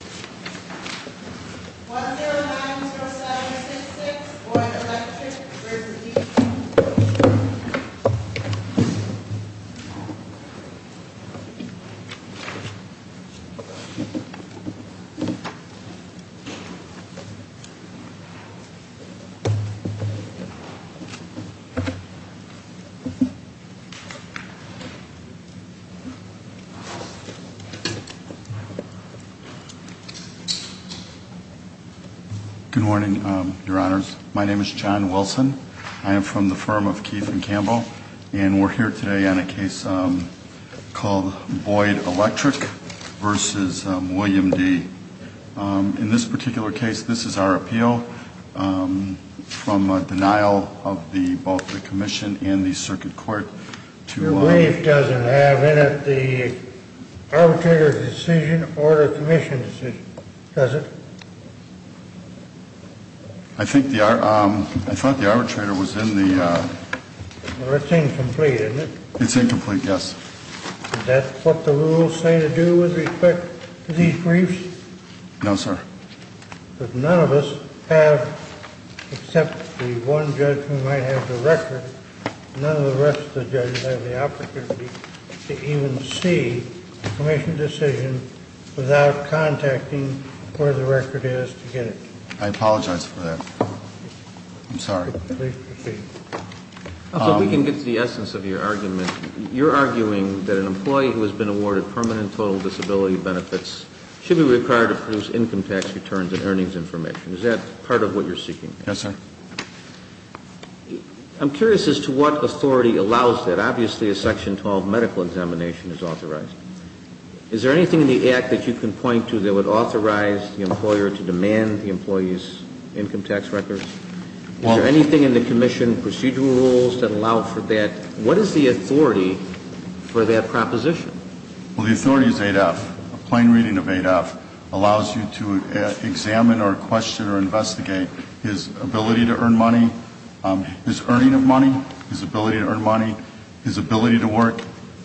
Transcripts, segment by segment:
1090766, Oid Electric v. Deaton Good morning, your honors. My name is John Wilson. I am from the firm of Keith and Campbell, and we're here today on a case called Boyd Electric v. William D. In this particular case, this is our appeal from a denial of both the commission and the circuit court. Your brief doesn't have in it the arbitrator's decision or the commission's decision. Does it? I thought the arbitrator was in the... Well, it's incomplete, isn't it? It's incomplete, yes. Is that what the rules say to do with respect to these briefs? No, sir. But none of us have, except the one judge who might have the record, none of the rest of the judges have the opportunity to even see the commission's decision without contacting where the record is to get it. I apologize for that. I'm sorry. Please proceed. If we can get to the essence of your argument, you're arguing that an employee who has been awarded permanent total disability benefits should be required to produce income tax returns and earnings information. Is that part of what you're seeking? Yes, sir. I'm curious as to what authority allows that. Obviously, a section 12 medical examination is authorized. Is there anything in the act that you can point to that would authorize the employer to demand the employee's income tax records? Is there anything in the commission procedural rules that allow for that? What is the authority for that proposition? Well, the authority is 8F. A plain reading of 8F allows you to examine or question or investigate his ability to earn money, his earning of money, his ability to earn money, his ability to work,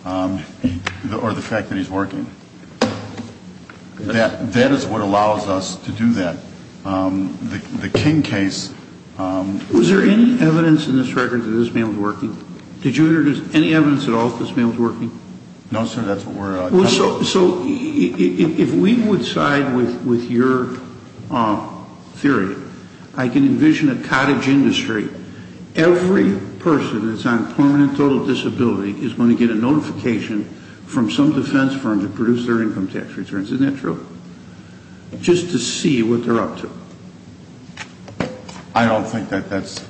or the fact that he's working. That is what allows us to do that. The King case... Was there any evidence in this record that this man was working? Did you introduce any evidence at all that this man was working? No, sir. That's what we're... So if we would side with your theory, I can envision a cottage industry. Every person that's on permanent total disability is going to get a notification from some defense firm to produce their income tax returns. Isn't that true? Just to see what they're up to. I don't think that that's...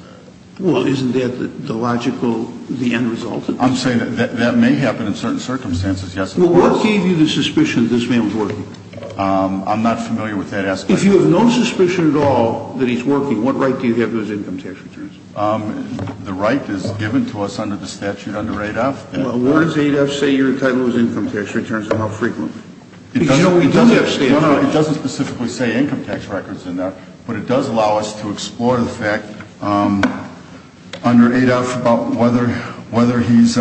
Well, isn't that the logical, the end result? I'm saying that that may happen in certain circumstances, yes. Well, what gave you the suspicion that this man was working? I'm not familiar with that aspect. If you have no suspicion at all that he's working, what right do you have to his income tax returns? The right is given to us under the statute under 8F. Well, where does 8F say your entitlement was income tax returns and how frequently? It doesn't specifically say income tax records in there, but it does allow us to explore the fact under 8F about whether he's...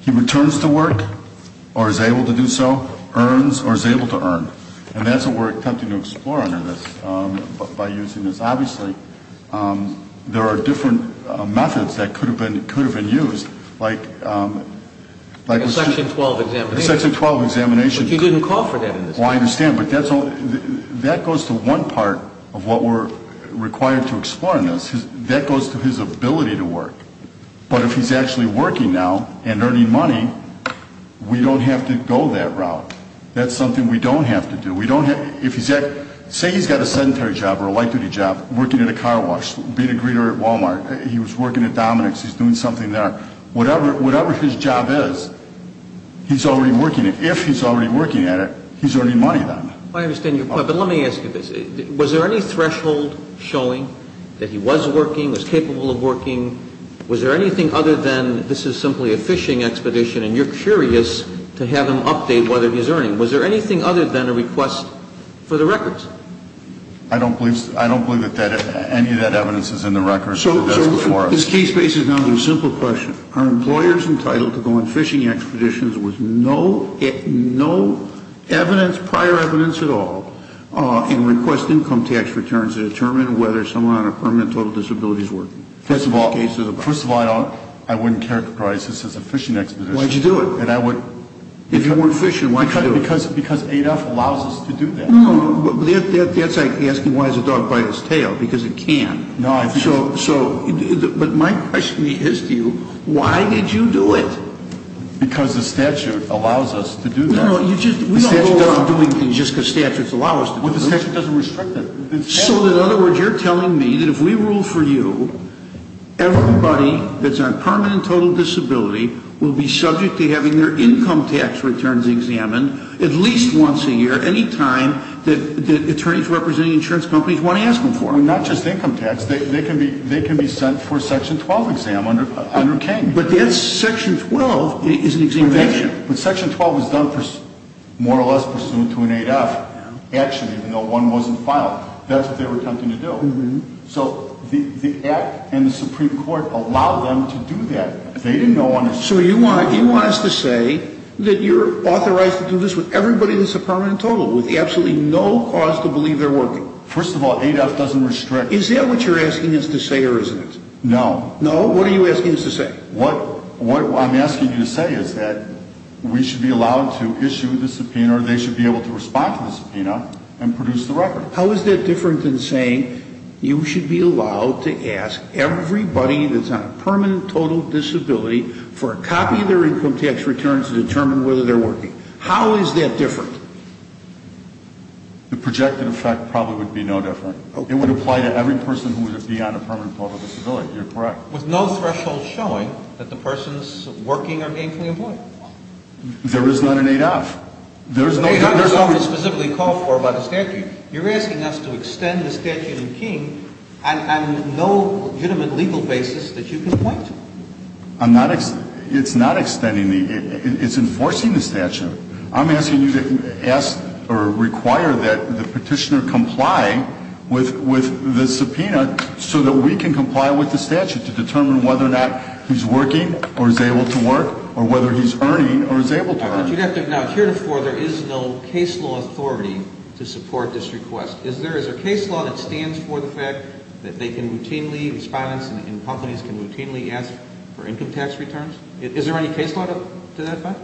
He returns to work or is able to do so, earns or is able to earn. And that's what we're attempting to explore under this, by using this. Obviously, there are different methods that could have been used, like... Section 12 examination. Section 12 examination. But you didn't call for that in this case. Well, I understand, but that goes to one part of what we're required to explore in this. That goes to his ability to work. But if he's actually working now and earning money, we don't have to go that route. That's something we don't have to do. Say he's got a sedentary job or a light-duty job, working at a car wash, being a greeter at Walmart. He was working at Dominick's. He's doing something there. Whatever his job is, he's already working it. If he's already working at it, he's earning money then. I understand your point, but let me ask you this. Was there any threshold showing that he was working, was capable of working? Was there anything other than this is simply a fishing expedition and you're curious to have him update whether he's earning? Was there anything other than a request for the records? I don't believe that any of that evidence is in the records. So this case bases on a simple question. Are employers entitled to go on fishing expeditions with no evidence, prior evidence at all, and request income tax returns to determine whether someone on a permanent total disability is working? First of all, I wouldn't characterize this as a fishing expedition. Why did you do it? If you weren't fishing, why did you do it? Because ADEF allows us to do that. That's like asking why does a dog bite its tail, because it can. But my question is to you, why did you do it? Because the statute allows us to do that. The statute doesn't do it just because statutes allow us to do it. But the statute doesn't restrict it. So in other words, you're telling me that if we rule for you, everybody that's on permanent total disability will be subject to having their income tax returns examined at least once a year, any time that attorneys representing insurance companies want to ask them for them. Not just income tax. They can be sent for a Section 12 exam under King. But that's Section 12 is an examination. But Section 12 is done more or less pursuant to an ADEF action, even though one wasn't filed. That's what they were attempting to do. So the Act and the Supreme Court allowed them to do that. They didn't go on to say. So you want us to say that you're authorized to do this with everybody that's a permanent total with absolutely no cause to believe they're working. First of all, ADEF doesn't restrict. Is that what you're asking us to say or isn't it? No. No? What are you asking us to say? What I'm asking you to say is that we should be allowed to issue the subpoena or they should be able to respond to the subpoena and produce the record. How is that different than saying you should be allowed to ask everybody that's on a permanent total disability for a copy of their income tax return to determine whether they're working? How is that different? The projected effect probably would be no different. It would apply to every person who would be on a permanent total disability. You're correct. With no threshold showing that the persons working are gainfully employed. There is not an ADEF. ADEF is specifically called for by the statute. You're asking us to extend the statute in King on no legitimate legal basis that you can point to. It's not extending. It's enforcing the statute. I'm asking you to ask or require that the petitioner comply with the subpoena so that we can comply with the statute to determine whether or not he's working or is able to work or whether he's earning or is able to earn. You'd have to acknowledge here to four there is no case law authority to support this request. Is there a case law that stands for the fact that they can routinely, respondents in companies can routinely ask for income tax returns? Is there any case law to that effect?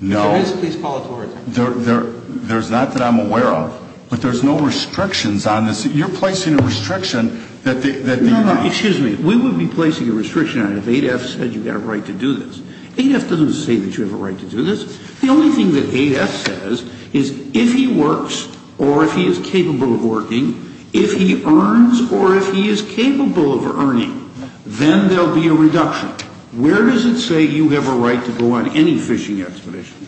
No. If there is, please call it to our attention. There's not that I'm aware of. But there's no restrictions on this. You're placing a restriction that the... No, no. Excuse me. We would be placing a restriction on it if ADEF said you've got a right to do this. ADEF doesn't say that you have a right to do this. The only thing that ADEF says is if he works or if he is capable of working, if he earns or if he is capable of earning, then there will be a reduction. Where does it say you have a right to go on any fishing expedition?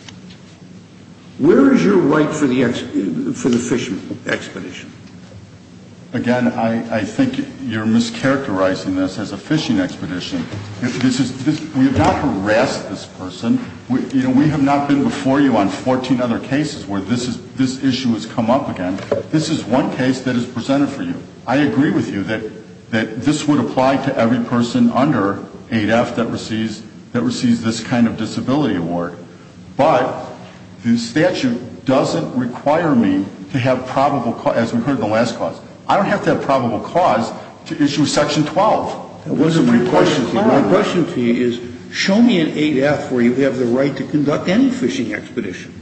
Where is your right for the fishing expedition? Again, I think you're mischaracterizing this as a fishing expedition. We have not harassed this person. We have not been before you on 14 other cases where this issue has come up again. This is one case that is presented for you. I agree with you that this would apply to every person under ADEF that receives this kind of disability award. But the statute doesn't require me to have probable cause, as we heard in the last clause. I don't have to have probable cause to issue Section 12. My question to you is show me an ADEF where you have the right to conduct any fishing expedition.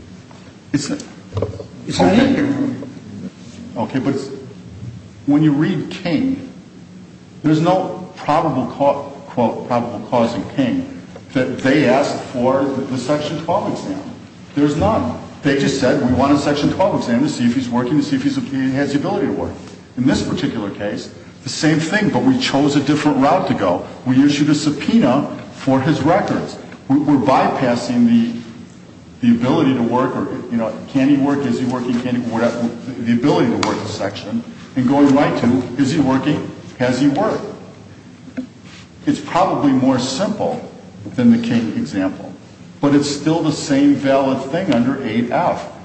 Okay, but when you read King, there's no probable cause in King that they asked for the Section 12 exam. There's none. They just said we want a Section 12 exam to see if he's working, to see if he has the ability to work. In this particular case, the same thing, but we chose a different route to go. We issued a subpoena for his records. We're bypassing the ability to work or, you know, can he work, is he working, the ability to work section, and going right to is he working, has he worked. It's probably more simple than the King example, but it's still the same valid thing under ADEF.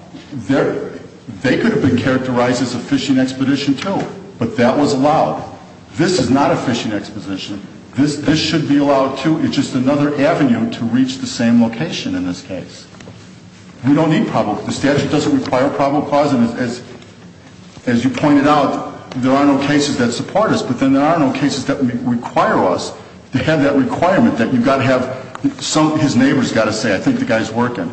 They could have been characterized as a fishing expedition, too, but that was allowed. This is not a fishing expedition. This should be allowed, too. It's just another avenue to reach the same location in this case. We don't need probable cause. The statute doesn't require probable cause, and as you pointed out, there are no cases that support us, but then there are no cases that require us to have that requirement that you've got to have some of his neighbors got to say, I think the guy's working.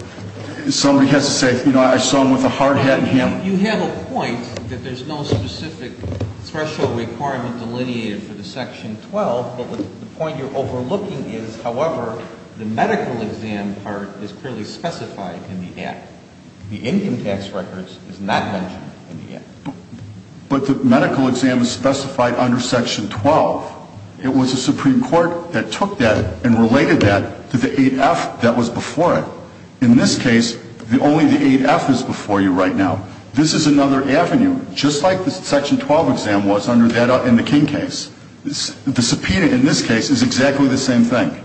Somebody has to say, you know, I saw him with a hard hat and hammer. You have a point that there's no specific threshold requirement delineated for the Section 12, but the point you're overlooking is, however, the medical exam part is clearly specified in the Act. The income tax records is not mentioned in the Act. But the medical exam is specified under Section 12. It was the Supreme Court that took that and related that to the ADEF that was before it. In this case, only the ADEF is before you right now. This is another avenue, just like the Section 12 exam was in the King case. The subpoena in this case is exactly the same thing.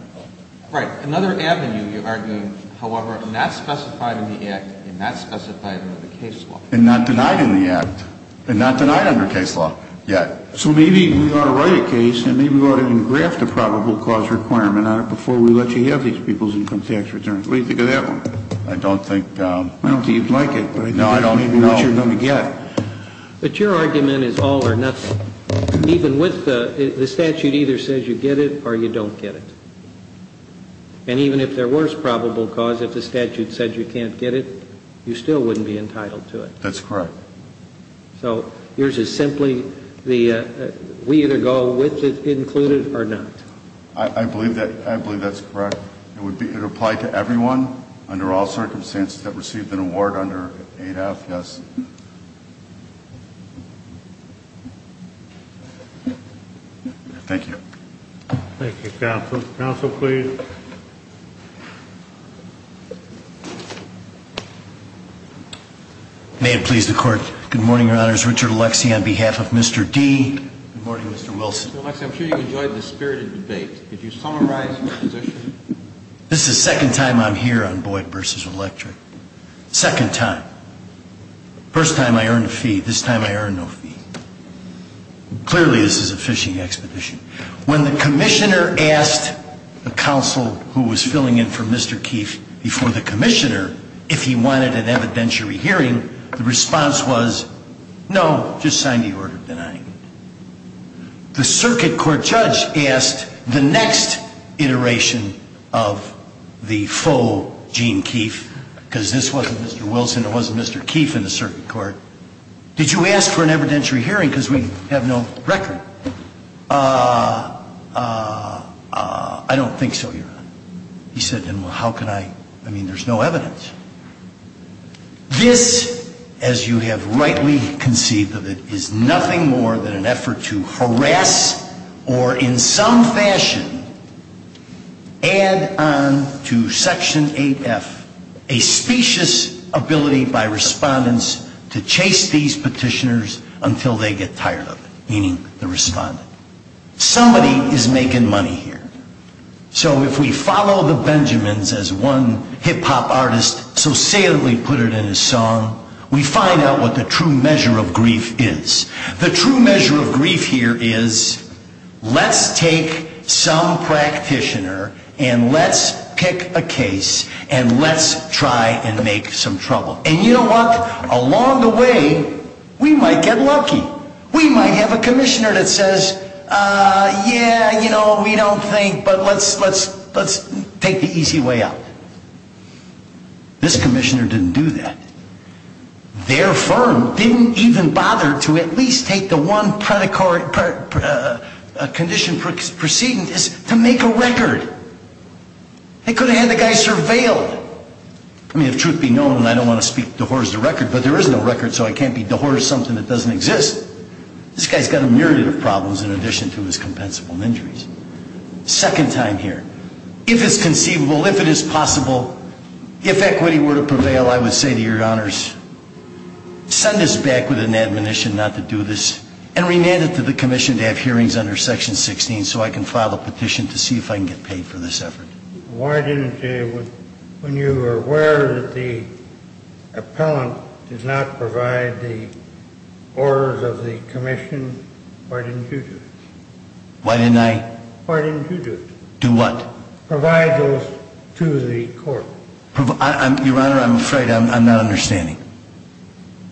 Right. Another avenue, you're arguing, however, not specified in the Act and not specified under the case law. And not denied in the Act and not denied under case law yet. So maybe we ought to write a case and maybe we ought to even graft a probable cause requirement on it before we let you have these people's income tax returns. What do you think of that one? I don't think you'd like it. No, I don't either. I don't know what you're going to get. But your argument is all or nothing. Even with the statute either says you get it or you don't get it. And even if there was probable cause, if the statute said you can't get it, you still wouldn't be entitled to it. That's correct. So yours is simply we either go with it included or not. I believe that's correct. It would apply to everyone under all circumstances that received an award under 8F, yes. Thank you. Thank you, counsel. Counsel, please. May it please the Court. Good morning, Your Honors. Richard Alexie on behalf of Mr. D. Good morning, Mr. Wilson. Mr. Alexie, I'm sure you enjoyed the spirited debate. Could you summarize your position? This is the second time I'm here on Boyd v. Electric. Second time. First time I earned a fee. This time I earned no fee. Clearly this is a fishing expedition. When the commissioner asked the counsel who was filling in for Mr. Keefe before the commissioner if he wanted an evidentiary hearing, the response was, no, just sign the order denying it. The circuit court judge asked the next iteration of the faux Gene Keefe, because this wasn't Mr. Wilson, it wasn't Mr. Keefe in the circuit court, did you ask for an evidentiary hearing because we have no record? I don't think so, Your Honor. He said, well, how can I? I mean, there's no evidence. This, as you have rightly conceived of it, is nothing more than an effort to harass or in some fashion add on to Section 8F a specious ability by respondents to chase these petitioners until they get tired of it, meaning the respondent. Somebody is making money here. So if we follow the Benjamins as one hip hop artist so saliently put it in his song, we find out what the true measure of grief is. The true measure of grief here is let's take some practitioner and let's pick a case and let's try and make some trouble. And you know what? Along the way, we might get lucky. We might have a commissioner that says, yeah, you know, we don't think, but let's let's let's take the easy way out. This commissioner didn't do that. Their firm didn't even bother to at least take the one predatory condition proceeding to make a record. They could have had the guy surveilled. I mean, if truth be known, and I don't want to speak to horse the record, but there is no record, so I can't be the horse something that doesn't exist. This guy's got a myriad of problems in addition to his compensable injuries. Second time here. If it's conceivable, if it is possible, if equity were to prevail, I would say to your honors, send us back with an admonition not to do this and remand it to the commission to have hearings under Section 16 so I can file a petition to see if I can get paid for this effort. Why didn't you, when you were aware that the appellant did not provide the orders of the commission, why didn't you do it? Why didn't I? Why didn't you do it? Do what? Provide those to the court. Your Honor, I'm afraid I'm not understanding.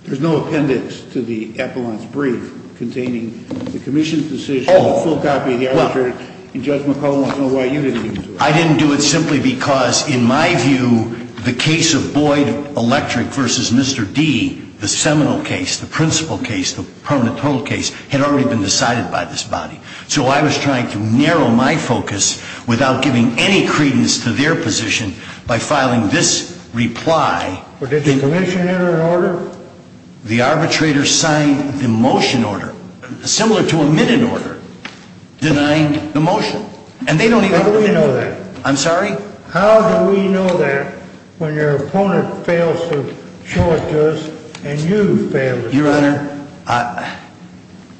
There's no appendix to the appellant's brief containing the commission's decision, a full copy of the argument, and Judge McClellan will know why you didn't do it. I didn't do it simply because, in my view, the case of Boyd Electric versus Mr. D, the seminal case, the principal case, the permanent total case, had already been decided by this body. So I was trying to narrow my focus without giving any credence to their position by filing this reply. Did the commission enter an order? The arbitrator signed the motion order, similar to a minute order, denying the motion. How do we know that? I'm sorry? How do we know that when your opponent fails to show it to us and you fail to show it? Your Honor,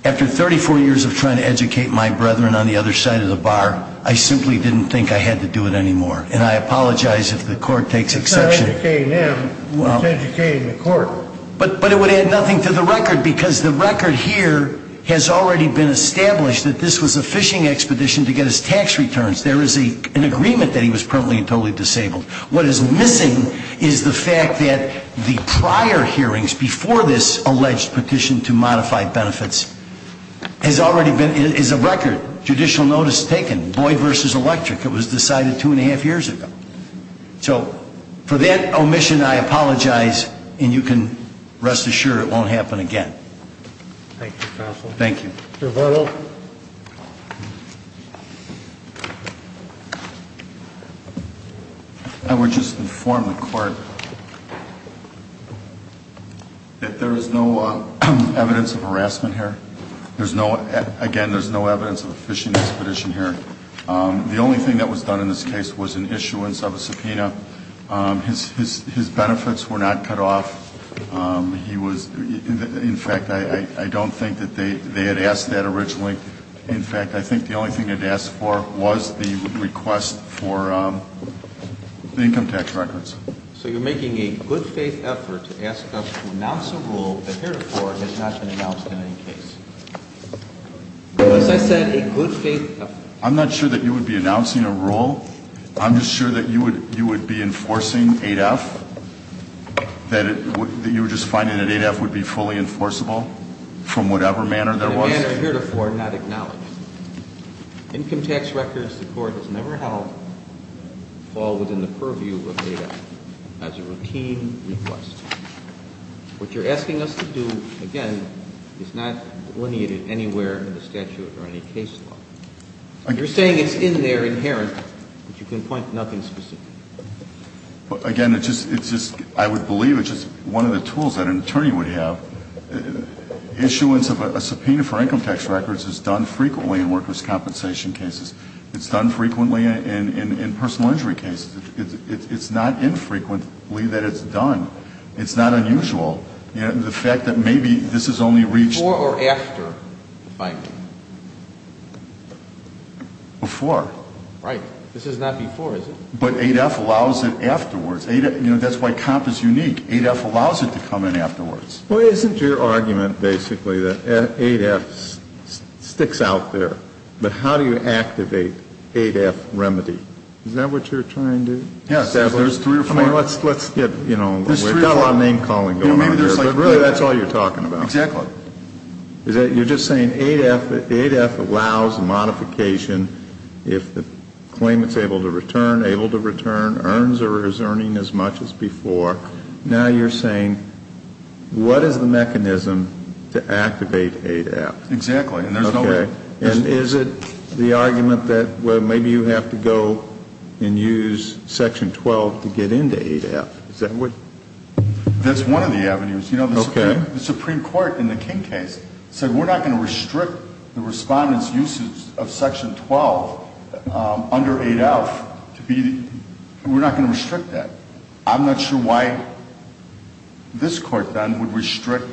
after 34 years of trying to educate my brethren on the other side of the bar, I simply didn't think I had to do it anymore. And I apologize if the court takes exception. It's not educating them. It's educating the court. But it would add nothing to the record because the record here has already been established that this was a phishing expedition to get his tax returns. There is an agreement that he was permanently and totally disabled. What is missing is the fact that the prior hearings before this alleged petition to modify benefits has already been, is a record. Judicial notice taken. Boyd versus Electric. It was decided two and a half years ago. So for that omission, I apologize. And you can rest assured it won't happen again. Thank you, Counsel. Thank you. Mr. Varno. I would just inform the court that there is no evidence of harassment here. There's no, again, there's no evidence of a phishing expedition here. The only thing that was done in this case was an issuance of a subpoena. His benefits were not cut off. He was, in fact, I don't think that they had asked that originally. In fact, I think the only thing they had asked for was the request for income tax records. So you're making a good faith effort to ask us to announce a rule that here before has not been announced in any case. As I said, a good faith effort. I'm not sure that you would be announcing a rule. I'm just sure that you would be enforcing 8F, that you were just finding that 8F would be fully enforceable from whatever manner there was? In a manner here before not acknowledged. Income tax records, the court has never held, fall within the purview of 8F as a routine request. What you're asking us to do, again, is not delineated anywhere in the statute or any case law. You're saying it's in there, inherent, but you can point to nothing specific. Again, it's just, I would believe it's just one of the tools that an attorney would have. Issuance of a subpoena for income tax records is done frequently in workers' compensation cases. It's done frequently in personal injury cases. It's not infrequently that it's done. It's not unusual. The fact that maybe this has only reached... Before or after the finding? Before. Right. This is not before, is it? But 8F allows it afterwards. You know, that's why comp is unique. 8F allows it to come in afterwards. Well, isn't your argument basically that 8F sticks out there? But how do you activate 8F remedy? Is that what you're trying to establish? Yes. I mean, let's get, you know, we've got a lot of name-calling going on here, but really that's all you're talking about. Exactly. You're just saying 8F allows modification if the claimant's able to return, earns or is earning as much as before. Now you're saying what is the mechanism to activate 8F? Exactly. Okay. And is it the argument that, well, maybe you have to go and use Section 12 to get into 8F? Is that what... That's one of the avenues. Okay. You know, the Supreme Court in the King case said we're not going to restrict the respondent's usage of Section 12 under 8F to be... We're not going to restrict that. I'm not sure why this Court then would restrict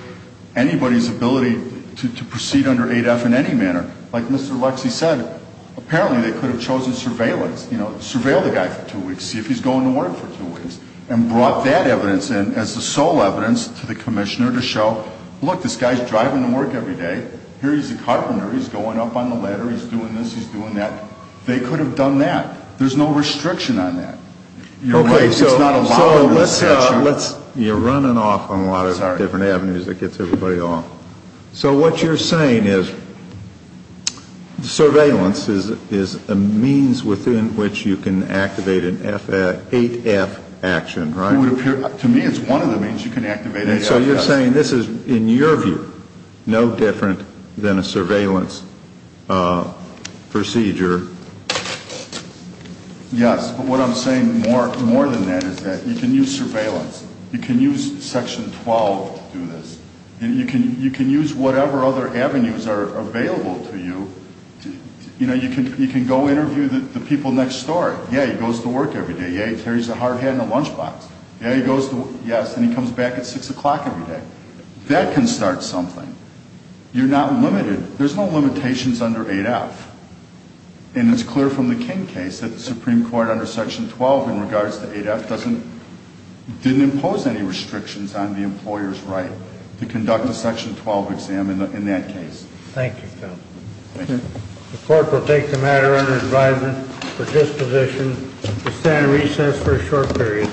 anybody's ability to proceed under 8F in any manner. Like Mr. Lexie said, apparently they could have chosen surveillance, you know, surveil the guy for two weeks, see if he's going to work for two weeks, and brought that evidence in as the sole evidence to the commissioner to show, look, this guy's driving to work every day. Here he's a carpenter. He's going up on the ladder. He's doing this. He's doing that. They could have done that. There's no restriction on that. Okay, so let's say you're running off on a lot of different avenues that gets everybody off. So what you're saying is surveillance is a means within which you can activate an 8F action, right? To me it's one of the means you can activate an 8F. So you're saying this is, in your view, no different than a surveillance procedure? Yes, but what I'm saying more than that is that you can use surveillance. You can use Section 12 to do this. You can use whatever other avenues are available to you. You know, you can go interview the people next door. Yeah, he goes to work every day. Yeah, he carries a hard hat and a lunch box. Yeah, he goes to work, yes, and he comes back at 6 o'clock every day. That can start something. You're not limited. There's no limitations under 8F. And it's clear from the King case that the Supreme Court under Section 12 in regards to 8F didn't impose any restrictions on the employer's right to conduct a Section 12 exam in that case. Thank you, Phil. Thank you. The court will take the matter under advisement for disposition to stand in recess for a short period.